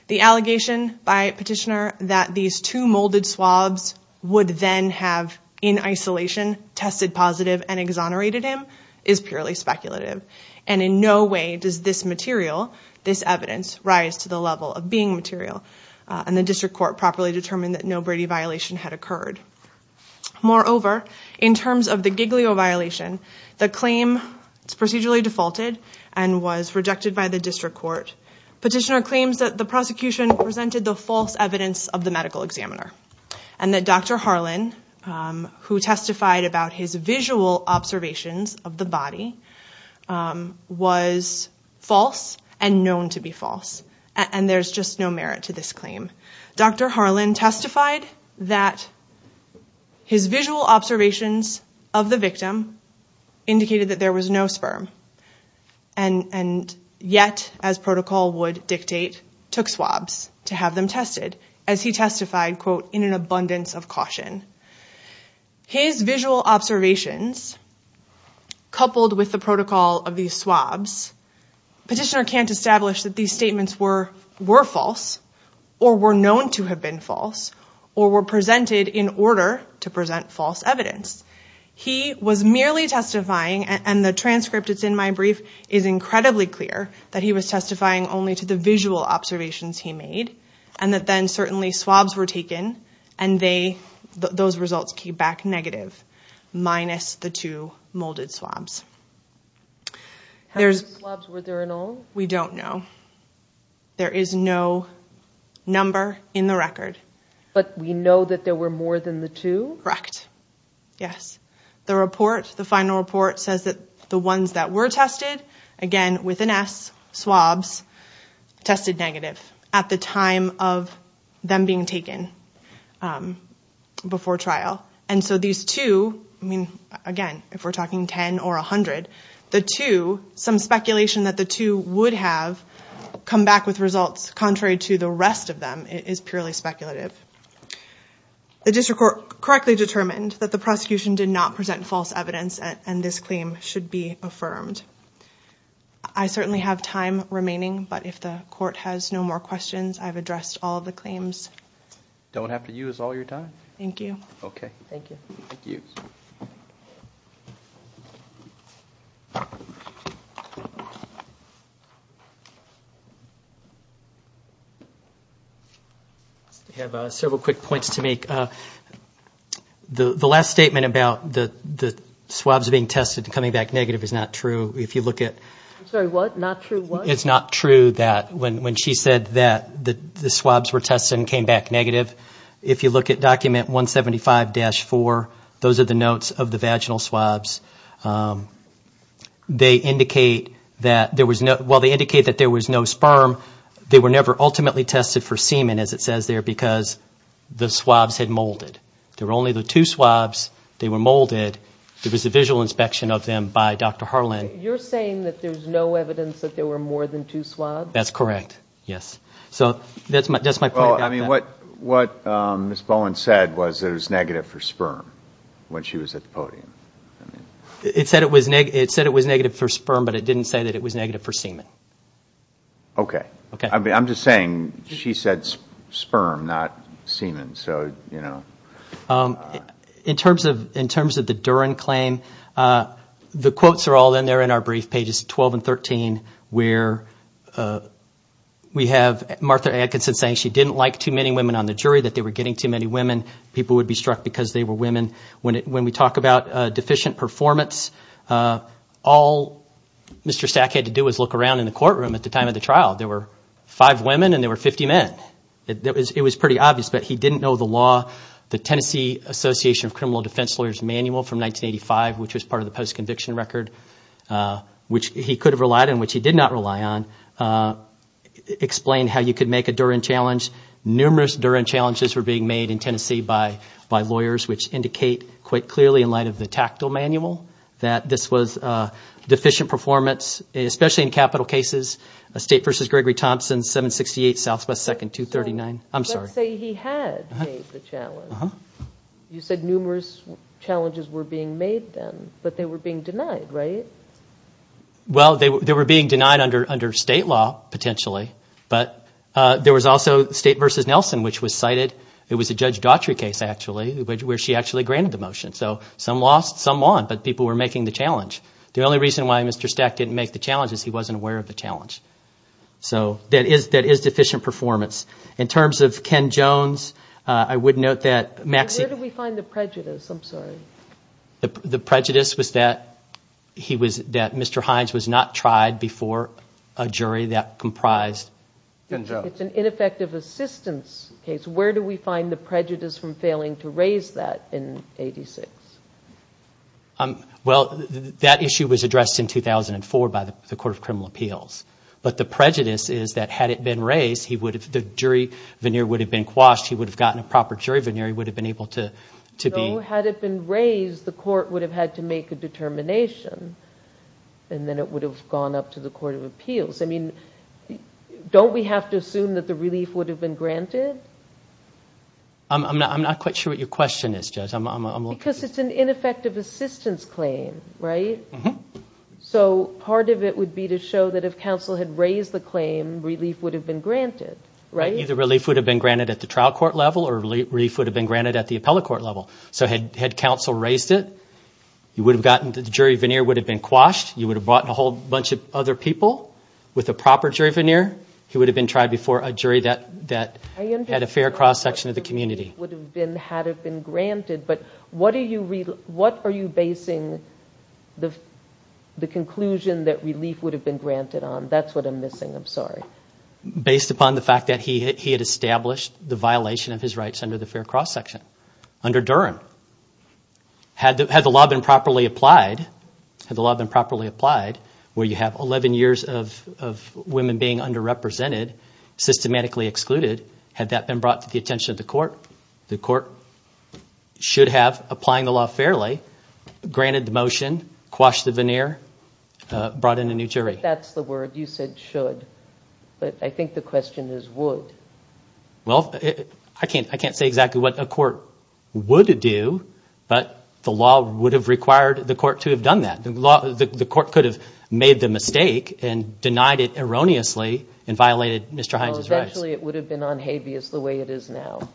The allegation by petitioner that these two molded swabs would then have, in isolation, tested positive and exonerated him is purely speculative, and in no way does this material, this evidence, rise to the level of being material, and the district court properly determined that no Brady violation had occurred. Moreover, in terms of the Giglio violation, the claim is procedurally defaulted and was rejected by the district court. Petitioner claims that the prosecution presented the false evidence of the medical examiner and that Dr. Harlan, who testified about his visual observations of the body, was false and known to be false, and there's just no merit to this claim. Dr. Harlan testified that his visual observations of the victim indicated that there was no sperm, and yet, as protocol would dictate, took swabs to have them tested, as he testified, quote, in an abundance of caution. His visual observations, coupled with the protocol of these swabs, petitioner can't establish that these statements were false or were known to have been false or were presented in order to present false evidence. He was merely testifying, and the transcript that's in my brief is incredibly clear, that he was testifying only to the visual observations he made, and that then, certainly, swabs were taken, and those results came back negative, minus the two molded swabs. How many swabs were there in all? We don't know. There is no number in the record. But we know that there were more than the two? Correct. Yes. The report, the final report, says that the ones that were tested, again, with an S, swabs, tested negative at the time of them being taken before trial. And so these two, I mean, again, if we're talking 10 or 100, the two, some speculation that the two would have come back with results contrary to the rest of them is purely speculative. The district court correctly determined that the prosecution did not present false evidence and this claim should be affirmed. I certainly have time remaining, but if the court has no more questions, I've addressed all of the claims. Don't have to use all your time. Thank you. Okay. Thank you. Thank you. Thank you. I have several quick points to make. The last statement about the swabs being tested and coming back negative is not true. If you look at – I'm sorry, what? Not true what? It's not true that when she said that the swabs were tested and came back negative. If you look at document 175-4, those are the notes of the vaginal swabs. They indicate that there was no – well, they indicate that there was no sperm. They were never ultimately tested for semen, as it says there, because the swabs had molded. There were only the two swabs. They were molded. There was a visual inspection of them by Dr. Harlan. You're saying that there's no evidence that there were more than two swabs? That's correct, yes. So that's my point. Well, I mean, what Ms. Bowen said was that it was negative for sperm when she was at the podium. It said it was negative for sperm, but it didn't say that it was negative for semen. Okay. I'm just saying she said sperm, not semen. In terms of the Duren claim, the quotes are all in there in our brief, pages 12 and 13, where we have Martha Atkinson saying she didn't like too many women on the jury, that they were getting too many women. People would be struck because they were women. When we talk about deficient performance, all Mr. Stack had to do was look around in the courtroom at the time of the trial. There were five women and there were 50 men. It was pretty obvious, but he didn't know the law. The Tennessee Association of Criminal Defense Lawyers manual from 1985, which was part of the post-conviction record, which he could have relied on, which he did not rely on, explained how you could make a Duren challenge. Numerous Duren challenges were being made in Tennessee by lawyers, which indicate quite clearly in light of the tactile manual that this was deficient performance, especially in capital cases, State v. Gregory Thompson, 768 Southwest 2nd, 239. I'm sorry. Let's say he had made the challenge. You said numerous challenges were being made then, but they were being denied, right? Well, they were being denied under State law, potentially, but there was also State v. Nelson, which was cited. It was a Judge Daughtry case, actually, where she actually granted the motion. So some lost, some won, but people were making the challenge. The only reason why Mr. Stack didn't make the challenge is he wasn't aware of the challenge. So that is deficient performance. In terms of Ken Jones, I would note that Maxine Where do we find the prejudice? I'm sorry. The prejudice was that Mr. Hines was not tried before a jury that comprised It's an ineffective assistance case. Where do we find the prejudice from failing to raise that in 86? Well, that issue was addressed in 2004 by the Court of Criminal Appeals. But the prejudice is that had it been raised, the jury veneer would have been quashed. He would have gotten a proper jury veneer. He would have been able to be No, had it been raised, the Court would have had to make a determination, and then it would have gone up to the Court of Appeals. I mean, don't we have to assume that the relief would have been granted? I'm not quite sure what your question is, Judge. Because it's an ineffective assistance claim, right? So part of it would be to show that if counsel had raised the claim, relief would have been granted, right? Either relief would have been granted at the trial court level or relief would have been granted at the appellate court level. So had counsel raised it, the jury veneer would have been quashed. You would have brought in a whole bunch of other people with a proper jury veneer. He would have been tried before a jury that had a fair cross-section of the community. Relief would have been granted, but what are you basing the conclusion that relief would have been granted on? That's what I'm missing. I'm sorry. Based upon the fact that he had established the violation of his rights under the fair cross-section, under Durham. Had the law been properly applied, where you have 11 years of women being underrepresented, systematically excluded, had that been brought to the attention of the court, the court should have, applying the law fairly, granted the motion, quashed the veneer, brought in a new jury. That's the word. You said should, but I think the question is would. Well, I can't say exactly what a court would do, but the law would have required the court to have done that. The court could have made the mistake and denied it erroneously and violated Mr. Hines' rights. Well, eventually it would have been on habeas the way it is now.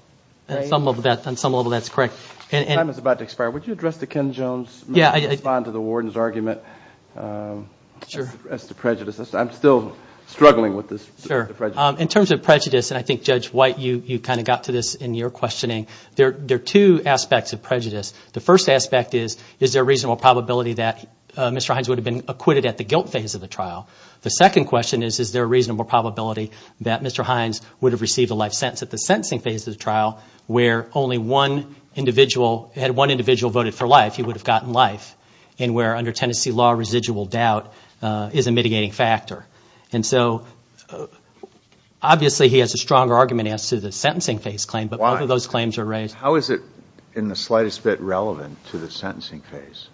On some level that's correct. Time is about to expire. Would you address the Ken Jones, respond to the warden's argument as to prejudice? I'm still struggling with this prejudice. In terms of prejudice, and I think Judge White, you kind of got to this in your questioning, there are two aspects of prejudice. The first aspect is, is there a reasonable probability that Mr. Hines would have been acquitted at the guilt phase of the trial? The second question is, is there a reasonable probability that Mr. Hines would have received a life sentence at the sentencing phase of the trial, where only one individual, had one individual voted for life, he would have gotten life, and where under Tennessee law, residual doubt is a mitigating factor. And so obviously he has a stronger argument as to the sentencing phase claim, but both of those claims are raised. How is it in the slightest bit relevant to the sentencing phase?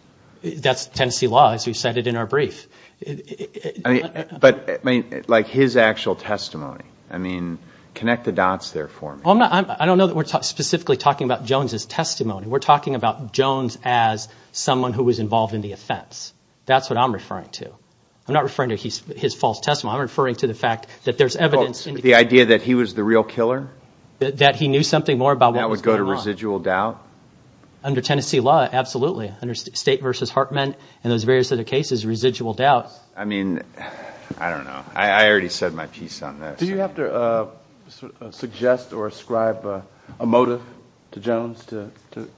That's Tennessee law, as we cited in our brief. But like his actual testimony, I mean, connect the dots there for me. I don't know that we're specifically talking about Jones' testimony. We're talking about Jones as someone who was involved in the offense. That's what I'm referring to. I'm not referring to his false testimony. I'm referring to the fact that there's evidence. The idea that he was the real killer? That he knew something more about what was going on? That would go to residual doubt? Under Tennessee law, absolutely. Under State v. Hartman and those various other cases, residual doubt. I mean, I don't know. I already said my piece on this. Do you have to suggest or ascribe a motive to Jones?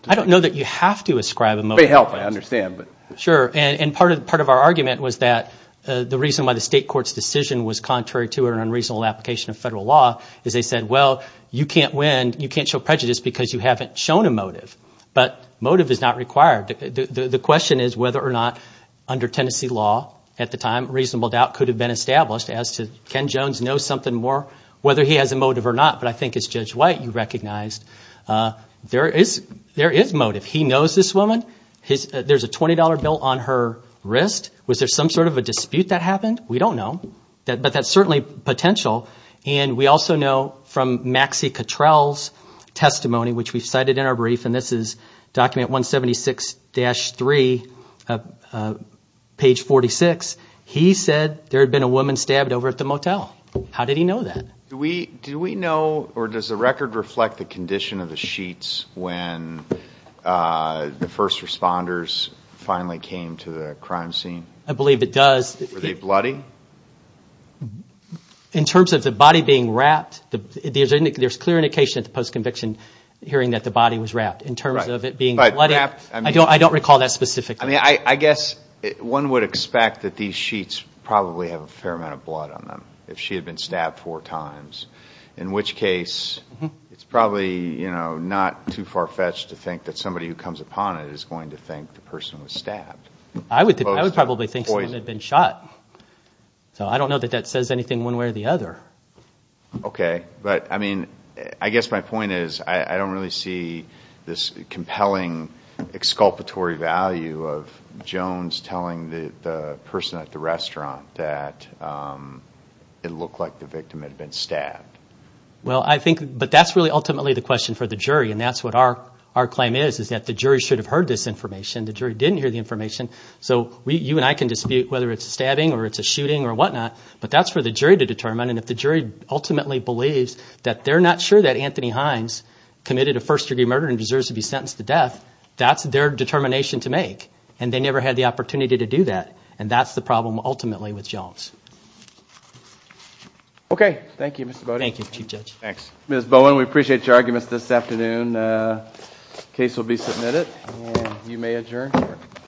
I don't know that you have to ascribe a motive. It may help. I understand. Sure. And part of our argument was that the reason why the State court's decision was contrary to an unreasonable application of federal law is they said, well, you can't win, you can't show prejudice because you haven't shown a motive. But motive is not required. The question is whether or not under Tennessee law at the time, reasonable doubt could have been established as to can Jones know something more, whether he has a motive or not. But I think it's Judge White you recognized there is motive. He knows this woman. There's a $20 bill on her wrist. Was there some sort of a dispute that happened? We don't know. But that's certainly potential. And we also know from Maxie Cottrell's testimony, which we cited in our brief, and this is document 176-3, page 46, he said there had been a woman stabbed over at the motel. How did he know that? Did we know, or does the record reflect the condition of the sheets when the first responders finally came to the crime scene? I believe it does. Were they bloody? In terms of the body being wrapped, there's clear indication at the post-conviction hearing that the body was wrapped. In terms of it being wrapped, I don't recall that specifically. I guess one would expect that these sheets probably have a fair amount of blood on them if she had been stabbed four times, in which case it's probably not too far-fetched to think that somebody who comes upon it is going to think the person was stabbed. I would probably think someone had been shot. So I don't know that that says anything one way or the other. Okay. But, I mean, I guess my point is I don't really see this compelling exculpatory value of Jones telling the person at the restaurant that it looked like the victim had been stabbed. Well, I think, but that's really ultimately the question for the jury, and that's what our claim is, is that the jury should have heard this information. The jury didn't hear the information. So you and I can dispute whether it's a stabbing or it's a shooting or whatnot, but that's for the jury to determine. And if the jury ultimately believes that they're not sure that Anthony Hines committed a first-degree murder and deserves to be sentenced to death, that's their determination to make. And they never had the opportunity to do that, and that's the problem ultimately with Jones. Okay. Thank you, Mr. Bowden. Thank you, Chief Judge. Ms. Bowen, we appreciate your arguments this afternoon. The case will be submitted, and you may adjourn.